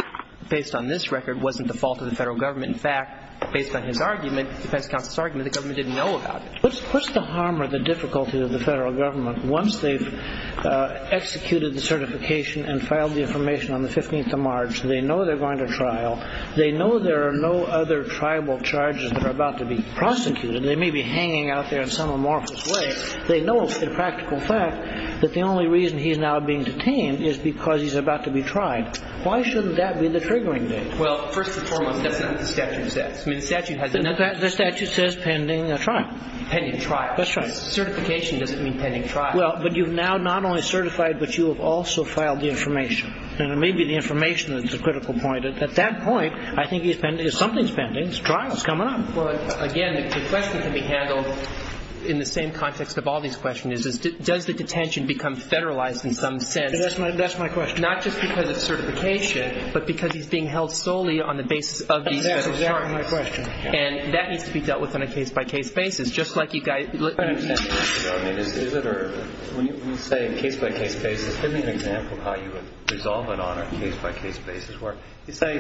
based on this record, wasn't the fault of the federal government. In fact, based on his argument, the defense counsel's argument, the government didn't know about it. What's the harm or the difficulty of the federal government once they've executed the certification and filed the information on the 15th of March? They know they're going to trial. They know there are no other tribal charges that are about to be prosecuted. They may be hanging out there in some amorphous way. They know, in practical fact, that the only reason he's now being detained is because he's about to be tried. Why shouldn't that be the triggering date? Well, first and foremost, that's not what the statute says. I mean, the statute has a number of things. The statute says pending trial. Pending trial. That's right. Certification doesn't mean pending trial. Well, but you've now not only certified, but you have also filed the information. And it may be the information that's a critical point. At that point, I think he's pending or something's pending. The trial's coming up. Well, again, the question can be handled in the same context of all these questions, is does the detention become federalized in some sense? That's my question. Not just because of certification, but because he's being held solely on the basis of these federal charges. That's exactly my question. And that needs to be dealt with on a case-by-case basis, just like you guys. I understand. I mean, is it or when you say case-by-case basis, give me an example of how you would resolve it on a case-by-case basis. Say,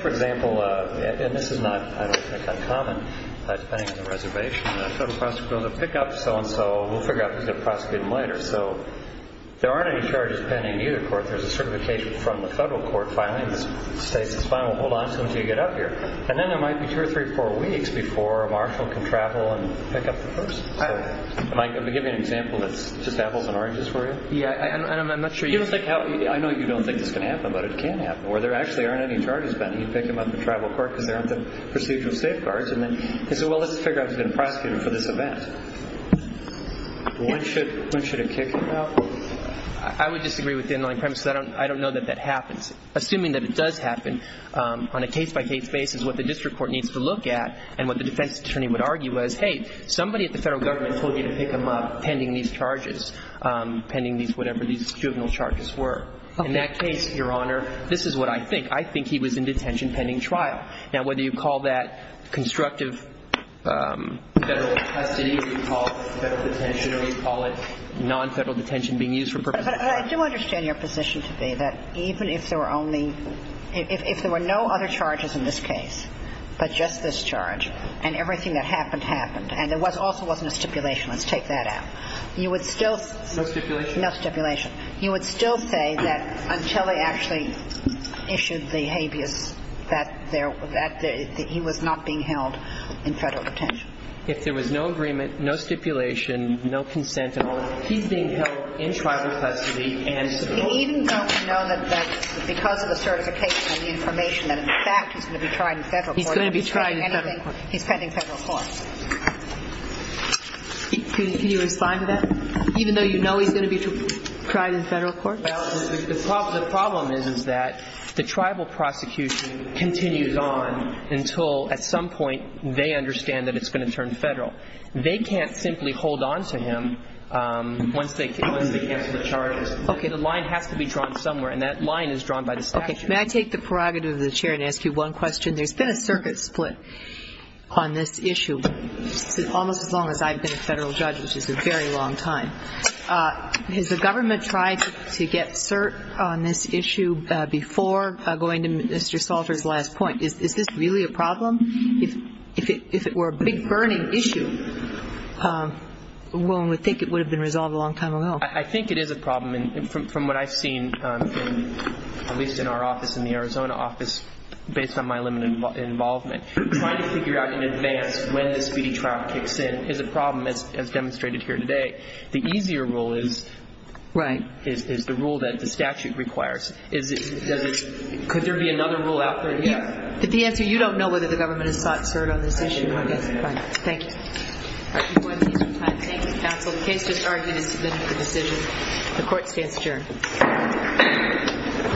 for example, and this is not, I don't think, uncommon, depending on the reservation. Federal prosecutors will pick up so-and-so. We'll figure out who's going to prosecute him later. So there aren't any charges pending in either court. There's a certification from the federal court filing. The state says, well, hold on until you get up here. And then there might be two or three or four weeks before a marshal can travel and pick up the person. Am I giving an example that's just apples and oranges for you? Yeah. And I'm not sure you think how – I know you don't think this can happen, but it can happen. Or there actually aren't any charges pending. You pick him up in tribal court because there aren't the procedural safeguards. And then you say, well, let's figure out who's going to prosecute him for this event. When should it kick him out? I would disagree with the inline premise. I don't know that that happens. Assuming that it does happen, on a case-by-case basis, what the district court needs to look at and what the defense attorney would argue is, hey, somebody at the federal government told you to pick him up pending these charges, pending whatever these juvenile charges were. In that case, Your Honor, this is what I think. I think he was in detention pending trial. Now, whether you call that constructive federal custody or you call it federal detention or you call it non-federal detention being used for purposes of trial. But I do understand your position to be that even if there were only – if there were no other charges in this case but just this charge and everything that happened happened and there also wasn't a stipulation. Let's take that out. You would still – No stipulation? No stipulation. You would still say that until they actually issued the habeas, that there – that he was not being held in federal detention. If there was no agreement, no stipulation, no consent at all, he's being held in tribal custody and – Even though we know that because of the certification and the information that, in fact, he's going to be tried in federal court – He's going to be tried in federal court. He's pending federal court. Can you respond to that? Even though you know he's going to be tried in federal court? Well, the problem is that the tribal prosecution continues on until at some point they understand that it's going to turn federal. They can't simply hold on to him once they cancel the charges. Okay. The line has to be drawn somewhere, and that line is drawn by the statute. Okay. May I take the prerogative of the chair and ask you one question? There's been a circuit split on this issue almost as long as I've been a federal judge, which is a very long time. Has the government tried to get cert on this issue before going to Mr. Salter's last point? Is this really a problem? If it were a big burning issue, one would think it would have been resolved a long time ago. I think it is a problem. From what I've seen, at least in our office in the Arizona office, based on my limited involvement, trying to figure out in advance when this speedy trial kicks in is a problem, as demonstrated here today. The easier rule is the rule that the statute requires. Could there be another rule out there? The answer is you don't know whether the government has sought cert on this issue. Thank you. Thank you, counsel. The case is argued and submitted for decision. The court stands adjourned.